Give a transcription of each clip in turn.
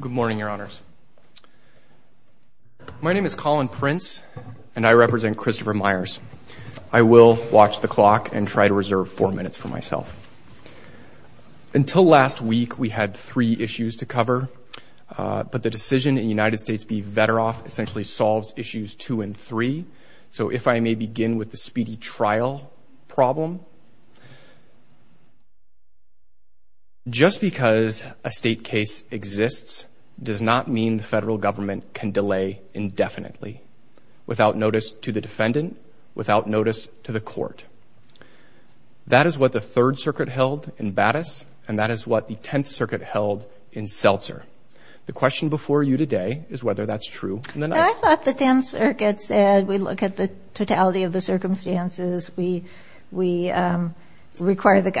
Good morning your honors. My name is Colin Prince and I represent Christopher Myers. I will watch the clock and try to reserve four minutes for myself. Until last week we had three issues to cover but the decision in United States v Veteroff essentially solves issues two and three. So if I may begin with the state case exists does not mean the federal government can delay indefinitely without notice to the defendant, without notice to the court. That is what the Third Circuit held in Battis and that is what the Tenth Circuit held in Seltzer. The question before you today is whether that's true. I thought the Tenth Circuit said we look at the totality of the circumstances we we require the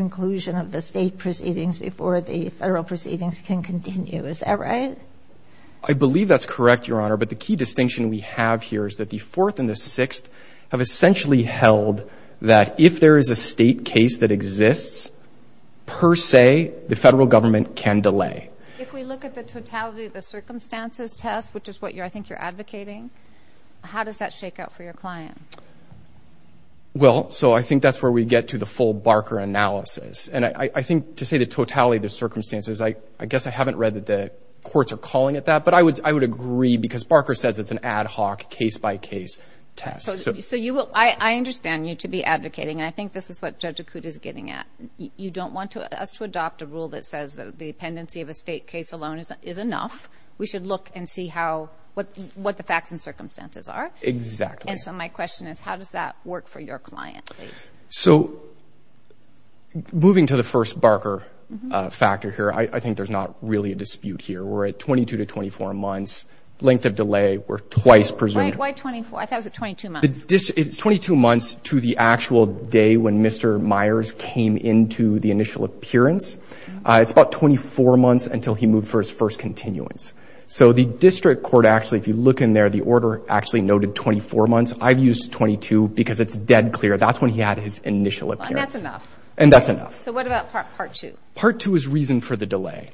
conclusion of the state proceedings before the federal proceedings can continue. Is that right? I believe that's correct your honor but the key distinction we have here is that the fourth and the sixth have essentially held that if there is a state case that exists per se the federal government can delay. If we look at the totality of the circumstances test which is what you I think you're advocating how does that shake out for your client? Well so I think that's where we get to the full Barker analysis and I think to say the totality of the circumstances I I guess I haven't read that the courts are calling it that but I would I would agree because Barker says it's an ad hoc case-by-case test. So you will I understand you to be advocating and I think this is what Judge Akut is getting at. You don't want to us to adopt a rule that says that the dependency of a state case alone is enough. We should look and see how what what the facts and circumstances are. Exactly. And so my So moving to the first Barker factor here I think there's not really a dispute here. We're at 22 to 24 months length of delay were twice presumed. Why 24? I thought it was at 22 months. It's 22 months to the actual day when Mr. Myers came into the initial appearance. It's about 24 months until he moved for his first continuance. So the district court actually if you look in there the order actually noted 24 months. I've used 22 because it's dead clear that's when he had his initial appearance. And that's enough. And that's enough. So what about part two? Part two is reason for the delay.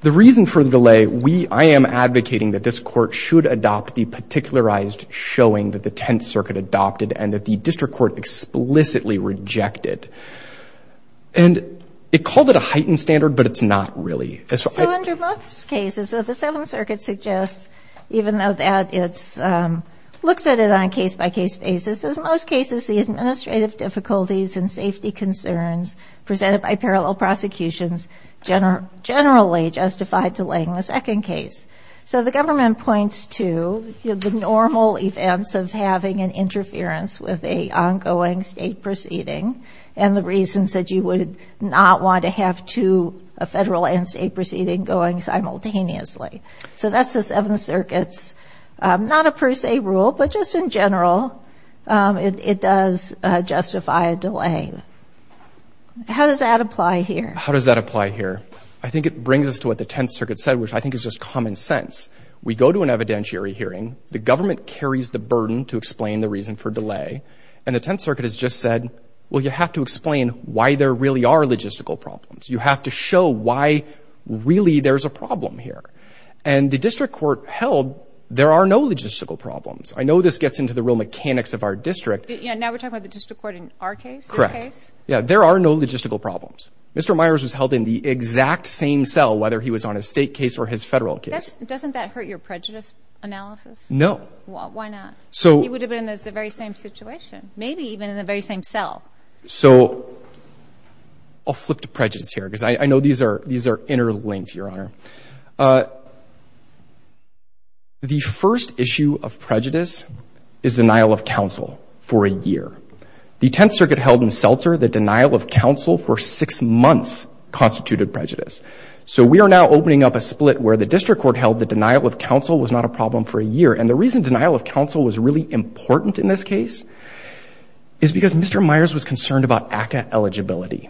The reason for the delay we I am advocating that this court should adopt the particularized showing that the Tenth Circuit adopted and that the district court explicitly rejected. And it called it a heightened standard but it's not really. So under both cases of the Seventh Circuit suggests even though that it's looks at it on a case-by-case basis as most cases the administrative difficulties and safety concerns presented by parallel prosecutions generally justified delaying the second case. So the government points to the normal events of having an interference with a ongoing state proceeding and the reasons that you would not want to have to a federal and state proceeding going simultaneously. So that's the Seventh Circuit's not a per se rule but just in general it does justify a delay. How does that apply here? How does that apply here? I think it brings us to what the Tenth Circuit said which I think is just common sense. We go to an evidentiary hearing. The government carries the burden to explain the reason for delay. And the Tenth Circuit has just said well you have to explain why there really are logistical problems. You have to show why really there's a and the district court held there are no logistical problems. I know this gets into the real mechanics of our district. Yeah now we're talking about the district court in our case? Correct. Yeah there are no logistical problems. Mr. Myers was held in the exact same cell whether he was on a state case or his federal case. Doesn't that hurt your prejudice analysis? No. Why not? So he would have been in the very same situation maybe even in the very same cell. So I'll flip to the first issue of prejudice is denial of counsel for a year. The Tenth Circuit held in Seltzer that denial of counsel for six months constituted prejudice. So we are now opening up a split where the district court held that denial of counsel was not a problem for a year. And the reason denial of counsel was really important in this case is because Mr. Myers was concerned about ACA eligibility.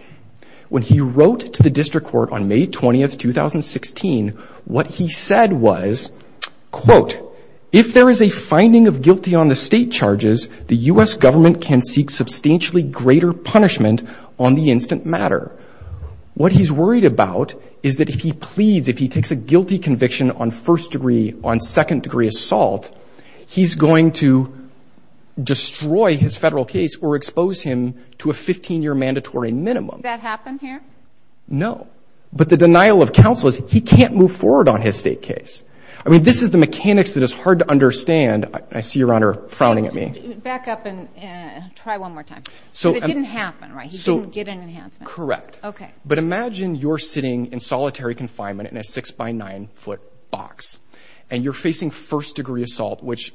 When he wrote to the district court on May 20th 2016 what he said was quote if there is a finding of guilty on the state charges the US government can seek substantially greater punishment on the instant matter. What he's worried about is that if he pleads if he takes a guilty conviction on first degree on second degree assault he's going to destroy his year mandatory minimum. That happened here? No. But the denial of counsel is he can't move forward on his state case. I mean this is the mechanics that is hard to understand. I see your honor frowning at me. Back up and try one more time. So it didn't happen right? He didn't get an enhancement. Correct. Okay. But imagine you're sitting in solitary confinement in a six by nine foot box and you're facing first degree assault which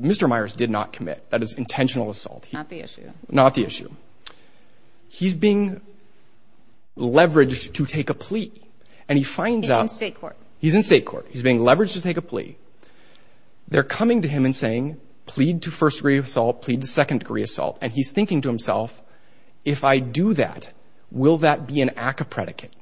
Mr. Myers did not commit. That is he's being leveraged to take a plea and he finds out. He's in state court. He's in state court. He's being leveraged to take a plea. They're coming to him and saying plead to first degree assault, plead to second degree assault and he's thinking to himself if I do that will that be an ACA predicate?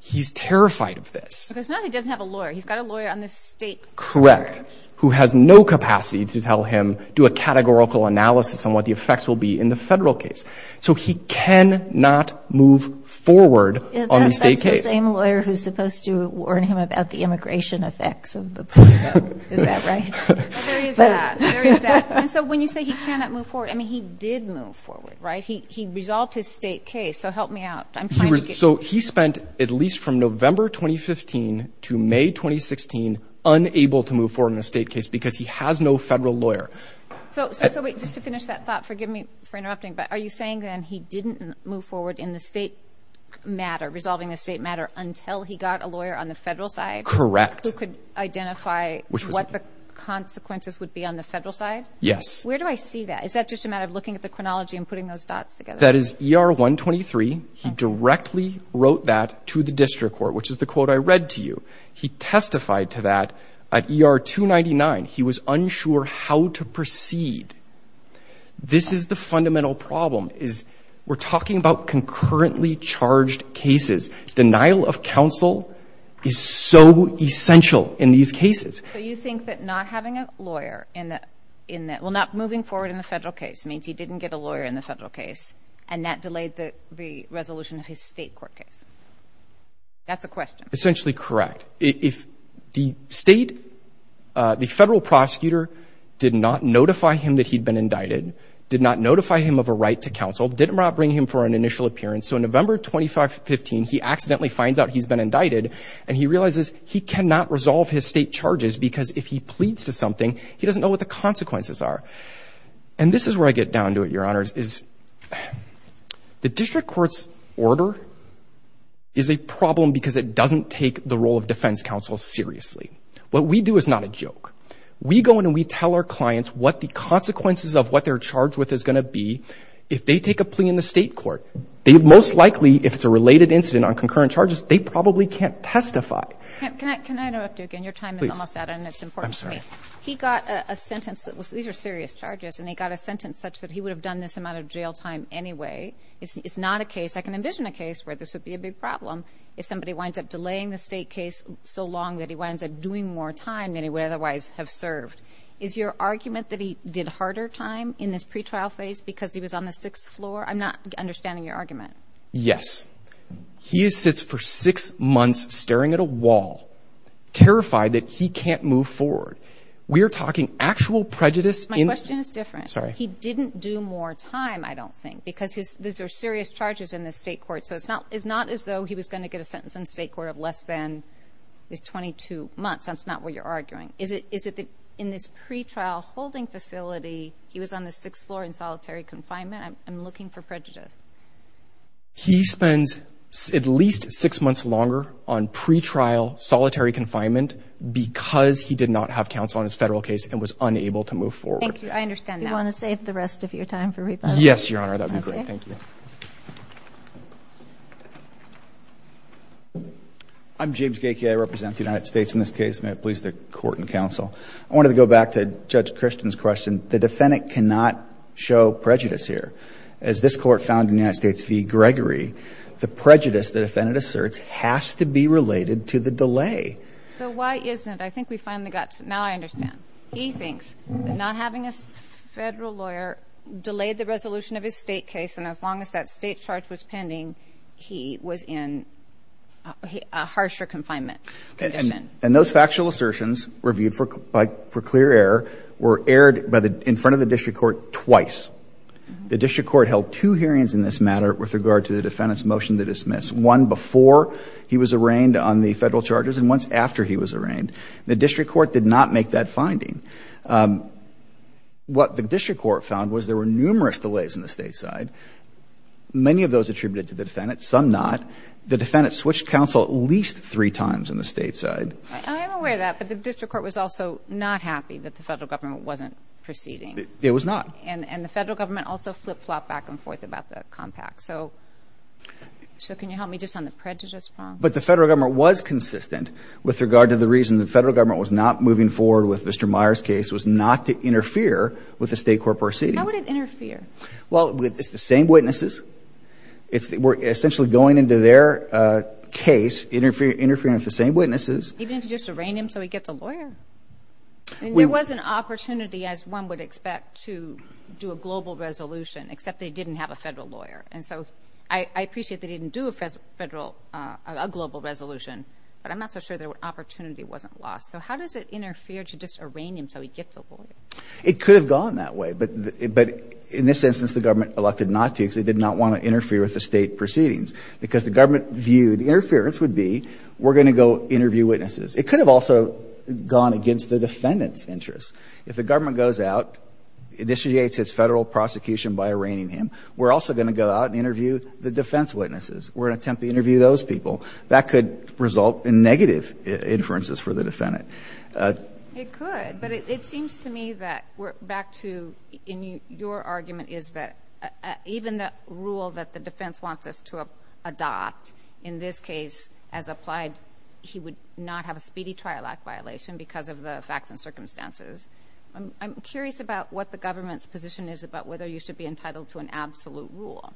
He's terrified of this. Because now he doesn't have a lawyer. He's got a lawyer on the state court. Correct. Who has no capacity to tell him do a categorical analysis on what the effects will be in the federal case. So he cannot move forward on the state case. That's the same lawyer who's supposed to warn him about the immigration effects of the plea. Is that right? There is that. So when you say he cannot move forward, I mean he did move forward right? He resolved his state case. So help me out. So he spent at least from November 2015 to May 2016 unable to move forward in a state case because he has no federal lawyer. So are you saying then he didn't move forward in the state matter, resolving the state matter until he got a lawyer on the federal side? Correct. Who could identify what the consequences would be on the federal side? Yes. Where do I see that? Is that just a matter of looking at the chronology and putting those dots together? That is ER 123. He directly wrote that to the district court which is the quote I read to you. He testified to that at ER 299. He was unsure how to proceed. This is the fundamental question. And the real problem is we're talking about concurrently charged cases. Denial of counsel is so essential in these cases. So you think that not having a lawyer in the in the well not moving forward in the federal case means he didn't get a lawyer in the federal case and that delayed the the resolution of his state court? That's a question essentially correct if the state. The federal prosecutor did not notify him that he'd been indicted, did not notify him of a right to counsel, did not bring him for an initial appearance. So in November 2015, he accidentally finds out he's been indicted and he realizes he cannot resolve his state charges because if he pleads to something, he doesn't know what the consequences are. And this is where I get down to it, Your Honors, is the district court's order is a problem because it doesn't take the role of defense counsel seriously. What we do is not a joke. We go in and we tell our clients what the consequences of what they're charged with is going to be if they take a plea in the state court. They most likely, if it's a related incident on concurrent charges, they probably can't testify. Can I interrupt you again? Your time is almost out and it's important. I'm sorry. He got a sentence that was these are serious charges and he got a sentence such that he would have done this amount of jail time anyway. It's not a case. I can envision a case where this would be a big problem if somebody winds up delaying the state case so long that he winds up doing more time than he would otherwise have served. Is your argument that he did harder time in this pretrial phase because he was on the sixth floor? I'm not understanding your argument. Yes, he sits for six months staring at a wall, terrified that he can't move forward. We're talking actual prejudice. My question is different. Sorry. He didn't do more time, I don't think, because these are serious charges in the state court. So it's not as though he was going to get a sentence in state court of less than 22 months. That's not what you're arguing. Is it in this pretrial holding facility? He was on the sixth floor in solitary confinement. I'm looking for prejudice. He spends at least six months longer on pretrial solitary confinement because he did not have counsel on his federal case and was unable to move forward. I understand. Do you want to save the rest of your time for rebuttal? Yes, Your Honor. That would be great. Thank you. I'm James Gakie. I represent the United States in this case. May it please the Court and counsel. I wanted to go back to Judge Christian's question. The defendant cannot show prejudice here. As this court found in the United States v. Gregory, the prejudice the defendant asserts has to be related to the delay. So why isn't it? I think we finally got to it. Now I understand. He thinks that not having a federal lawyer delayed the resolution of his state case. And as long as that state charge was pending, he was in a harsher confinement. And those factual assertions reviewed for clear error were aired in front of the district court twice. The district court held two hearings in this matter with regard to the defendant's motion to dismiss. One before he was arraigned on the federal charges and once after he was arraigned. The district court did not make that finding. What the district court found was there were numerous delays in the state side. Many of those attributed to the defendant, some not. The defendant switched counsel at least three times on the state side. I'm aware of that. But the district court was also not happy that the federal government wasn't proceeding. It was not. And the federal government also flip-flopped back and forth about the compact. So can you help me just on the prejudice? But the federal government was consistent with regard to the reason the federal government was not moving forward with Mr. Meyer's case was not to interfere with the state court proceeding. How would it interfere? Well, it's the same witnesses. It's essentially going into their case, interfering with the same witnesses. Even if you just arraign him so he gets a lawyer. And there was an opportunity, as one would expect, to do a global resolution, except they didn't have a federal lawyer. And so I appreciate they didn't do a federal, a global resolution, but I'm not so sure the opportunity wasn't lost. So how does it interfere to just arraign him so he gets a lawyer? It could have gone that way. But in this instance, the government elected not to because they did not want to interfere with the state proceedings. Because the government viewed interference would be, we're going to go interview witnesses. It could have also gone against the defendant's interests. If the government goes out, initiates its federal prosecution by arraigning him, we're also going to go out and interview the defense witnesses. We're going to attempt to interview those people. That could result in negative inferences for the defendant. It could, but it seems to me that we're back to, and your argument is that even the rule that the defense wants us to adopt, in this case, as applied, he would not have a speedy trial act violation because of the facts and circumstances. I'm curious about what the government's position is about whether you should be entitled to an absolute rule.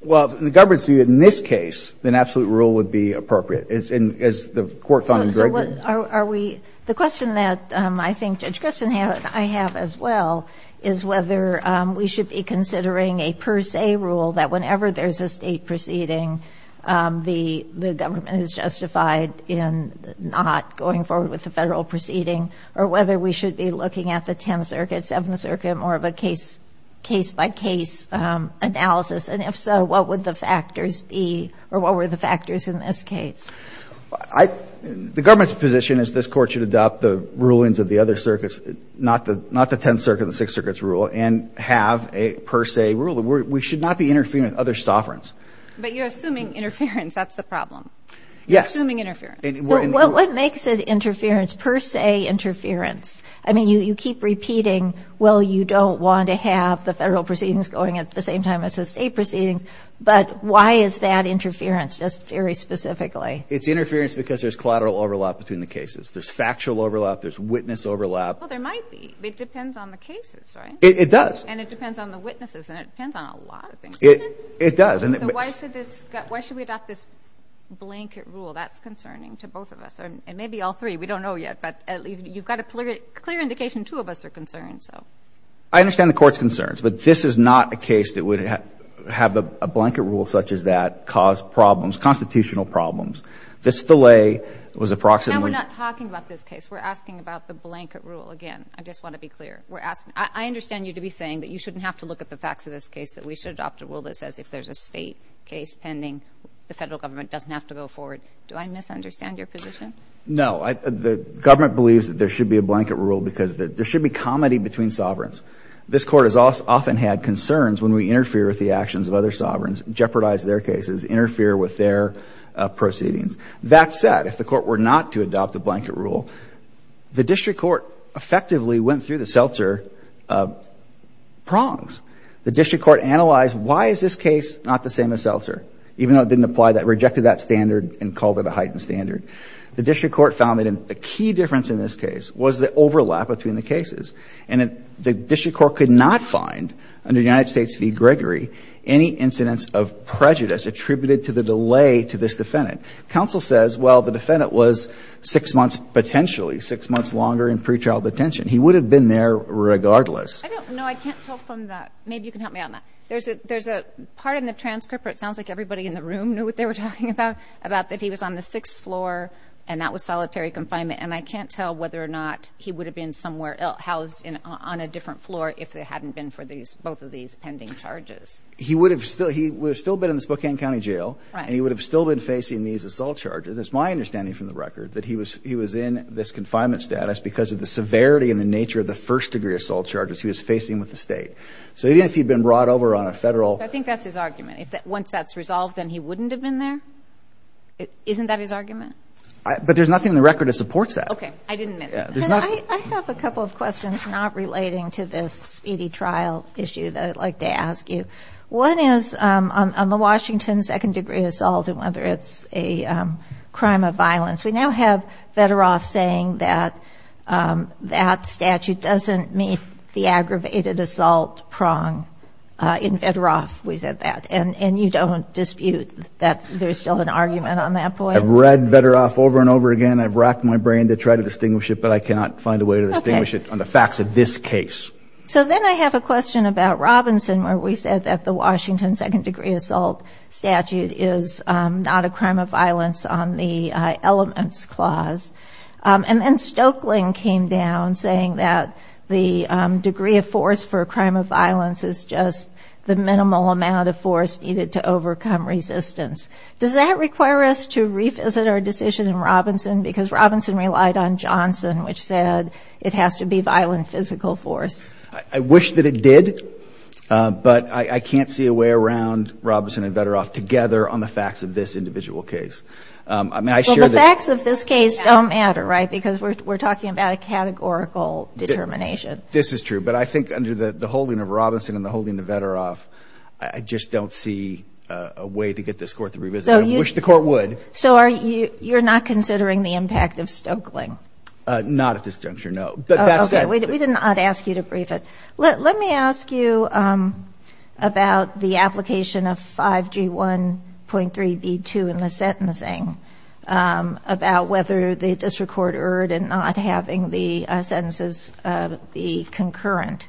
Well, the government's view that in this case, an absolute rule would be appropriate, as the court found in Gregory. So are we, the question that I think Judge Grissom and I have as well is whether we should be considering a per se rule that whenever there's a state proceeding, the government is justified in not going forward with the federal proceeding, or whether we should be looking at the 10th Circuit, 7th Circuit, more of a case-by-case analysis. And if so, what would the factors be, or what were the factors in this case? The government's position is this court should adopt the rulings of the other circuits, not the 10th Circuit and the 6th Circuit's rule, and have a per se rule. We should not be interfering with other sovereigns. But you're assuming interference. That's the problem. Yes. You're assuming interference. What makes it interference, per se interference? I mean, you keep repeating, well, you don't want to have the federal proceedings going at the same time as the state proceedings. But why is that interference, just very specifically? It's interference because there's collateral overlap between the cases. There's factual overlap. There's witness overlap. Well, there might be. It depends on the cases, right? It does. And it depends on the witnesses, and it depends on a lot of things. It does. So why should we adopt this blanket rule? That's concerning to both of us, and maybe all three. We don't know yet, but you've got a clear indication two of us are concerned. I understand the Court's concerns, but this is not a case that would have a blanket rule such as that cause problems, constitutional problems. This delay was approximately Now, we're not talking about this case. We're asking about the blanket rule. Again, I just want to be clear. I understand you to be saying that you shouldn't have to look at the facts of this case, that we should adopt a rule that says if there's a state case pending, the federal government doesn't have to go forward. Do I misunderstand your position? No. The government believes that there should be a blanket rule because there should be comity between sovereigns. This Court has often had concerns when we interfere with the actions of other sovereigns, jeopardize their cases, interfere with their proceedings. That said, if the Court were not to adopt a blanket rule, the district court effectively went through the Seltzer prongs. The district court analyzed why is this case not the same as Seltzer, even though it didn't apply that, rejected that standard and called it a heightened standard. The district court found that the key difference in this case was the overlap between the cases. And the district court could not find, under United States v. Gregory, any incidents of prejudice attributed to the delay to this defendant. Counsel says, well, the defendant was six months potentially, six months longer in pretrial detention. He would have been there regardless. No, I can't tell from that. Maybe you can help me on that. There's a part in the transcript where it sounds like everybody in the room knew what they were talking about, about that he was on the sixth floor and that was solitary confinement. And I can't tell whether or not he would have been somewhere else, housed on a different floor, if it hadn't been for these, both of these pending charges. He would have still, he would have still been in the Spokane County Jail. And he would have still been facing these assault charges. It's my understanding from the record that he was, he was in this confinement status because of the severity and the nature of the first degree assault charges he was facing with the state. So even if he'd been brought over on a federal. I think that's his argument. If that, once that's resolved, then he wouldn't have been there. Isn't that his argument? But there's nothing in the record that supports that. Okay. I didn't miss it. I have a couple of questions not relating to this speedy trial issue that I'd like to ask you. One is on the Washington second degree assault and whether it's a crime of violence. We now have Vederoff saying that that statute doesn't meet the aggravated assault prong. In Vederoff we said that. And you don't dispute that there's still an argument on that point? I've read Vederoff over and over again. I've racked my brain to try to distinguish it, but I cannot find a way to distinguish it on the facts of this case. So then I have a question about Robinson where we said that the Washington second degree assault statute is not a crime of violence on the elements clause. And then Stoeckling came down saying that the degree of force for a crime of violence is just the minimal amount of force needed to overcome resistance. Does that require us to revisit our decision in Robinson? Because Robinson relied on Johnson, which said it has to be violent physical force. I wish that it did, but I can't see a way around Robinson and Vederoff together on the facts of this individual case. I mean, I share that. Well, the facts of this case don't matter, right, because we're talking about a categorical determination. This is true. But I think under the holding of Robinson and the holding of Vederoff, I just don't see a way to get this court to revisit it. I wish the court would. So you're not considering the impact of Stoeckling? Not at this juncture, no. But that said. We did not ask you to brief it. Let me ask you about the application of 5G1.3b2 in the sentencing, about whether the district court erred in not having the sentences be concurrent.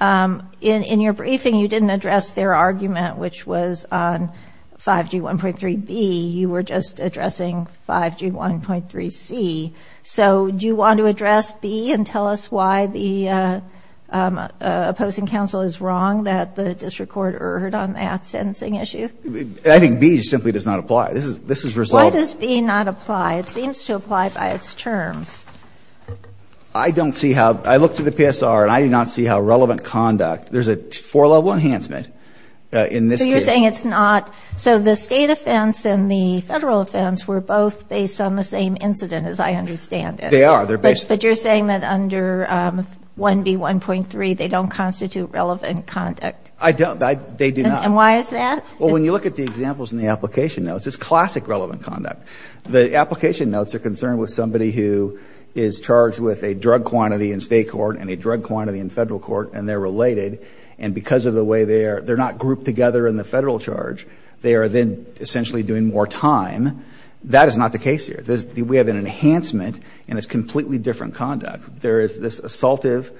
In your briefing, you didn't address their argument, which was on 5G1.3b. You were just addressing 5G1.3c. So do you want to address b and tell us why the opposing counsel is wrong that the district court erred on that sentencing issue? I think b simply does not apply. This is resolved. Why does b not apply? It seems to apply by its terms. I don't see how. I looked at the PSR, and I do not see how relevant conduct. There's a four-level enhancement in this case. So you're saying it's not. So the state offense and the federal offense were both based on the same incident, as I understand it. They are. But you're saying that under 1b1.3, they don't constitute relevant conduct. I don't. They do not. And why is that? Well, when you look at the examples in the application notes, it's classic relevant conduct. The application notes are concerned with somebody who is charged with a drug quantity in state court and a drug quantity in federal court, and they're related. And because of the way they are, they're not grouped together in the federal charge. They are then essentially doing more time. That is not the case here. We have an enhancement, and it's completely different conduct. There is this assaultive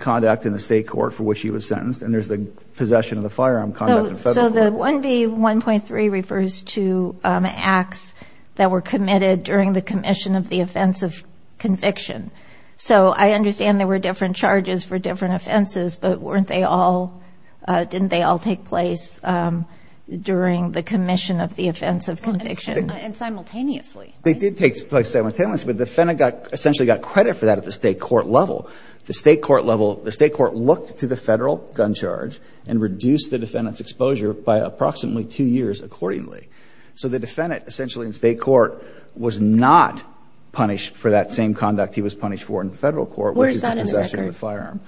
conduct in the state court for which he was sentenced, and there's the possession of the firearm conduct in federal court. So the 1b1.3 refers to acts that were committed during the commission of the offense of conviction. So I understand there were different charges for different offenses, but weren't they all, didn't they all take place during the commission of the offense of conviction? And simultaneously. They did take place simultaneously, but the defendant essentially got credit for that at the state court level. The state court looked to the federal gun charge and reduced the defendant's exposure by approximately two years accordingly. So the defendant essentially in state court was not punished for that same conduct. He was punished for in federal court, which is the possession of the firearm.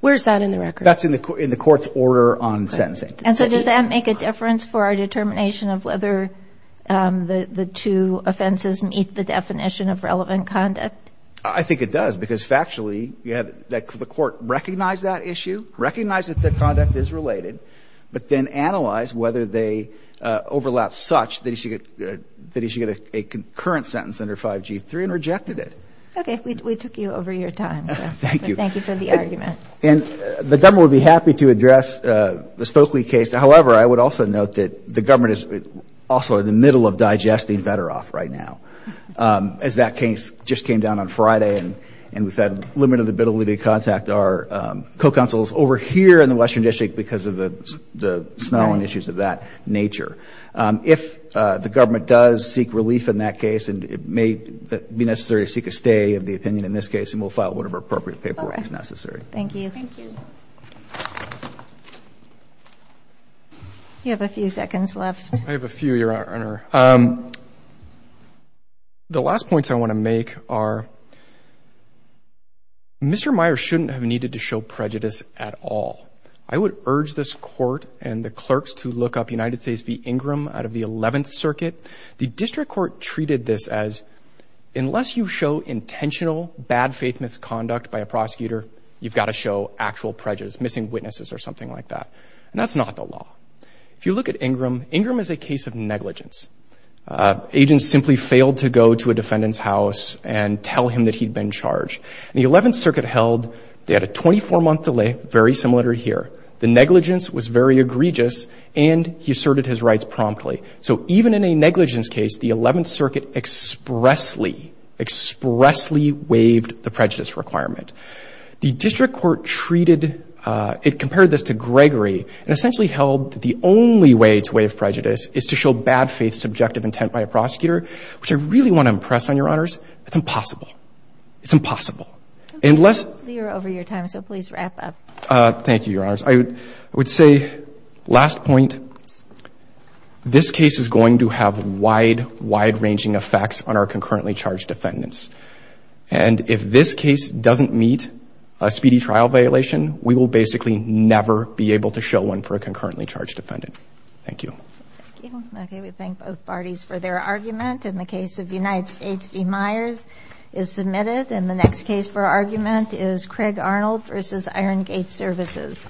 Where's that in the record? That's in the court's order on sentencing. And so does that make a difference for our determination of whether the two offenses meet the definition of relevant conduct? I think it does, because factually, the court recognized that issue, recognized that the conduct is related, but then analyzed whether they overlap such that he should get a concurrent sentence under 5g3 and rejected it. Okay, we took you over your time. Thank you. Thank you for the argument. And the government would be happy to address the Stokely case. However, I would also note that the government is also in the middle of digesting Vederoff right now, as that case just came down on Friday. And with that limit of the ability to contact our co-counsels over here in the Western District because of the snow and issues of that nature. If the government does seek relief in that case, and it may be necessary to seek a stay of the opinion in this case, and we'll file whatever appropriate paperwork is necessary. Thank you. Thank you. You have a few seconds left. I have a few, Your Honor. The last points I want to make are, Mr. Meyer shouldn't have needed to show prejudice at all. I would urge this court and the clerks to look up United States v. Ingram out of the 11th Circuit. The district court treated this as, unless you show intentional bad faith misconduct by a prosecutor, you've got to show actual prejudice, missing witnesses or something like that. And that's not the law. If you look at Ingram, Ingram is a case of negligence. Agents simply failed to go to a defendant's house and tell him that he'd been charged. The 11th Circuit held they had a 24-month delay, very similar to here. The negligence was very egregious, and he asserted his rights promptly. So even in a negligence case, the 11th Circuit expressly, expressly waived the prejudice requirement. The district court treated, it compared this to Gregory, and essentially held that the only way to waive prejudice is to show bad faith subjective intent by a prosecutor, which I really want to impress on Your Honors, it's impossible. It's impossible. And let's... We're over your time, so please wrap up. Thank you, Your Honors. I would say, last point, this case is going to have wide, wide-ranging effects on our concurrently charged defendants. And if this case doesn't meet a speedy trial violation, we will basically never be able to show one for a concurrently charged defendant. Thank you. Thank you. Okay. We thank both parties for their argument. In the case of United States, D. Myers is submitted. And the next case for argument is Craig Arnold v. Iron Gate Services.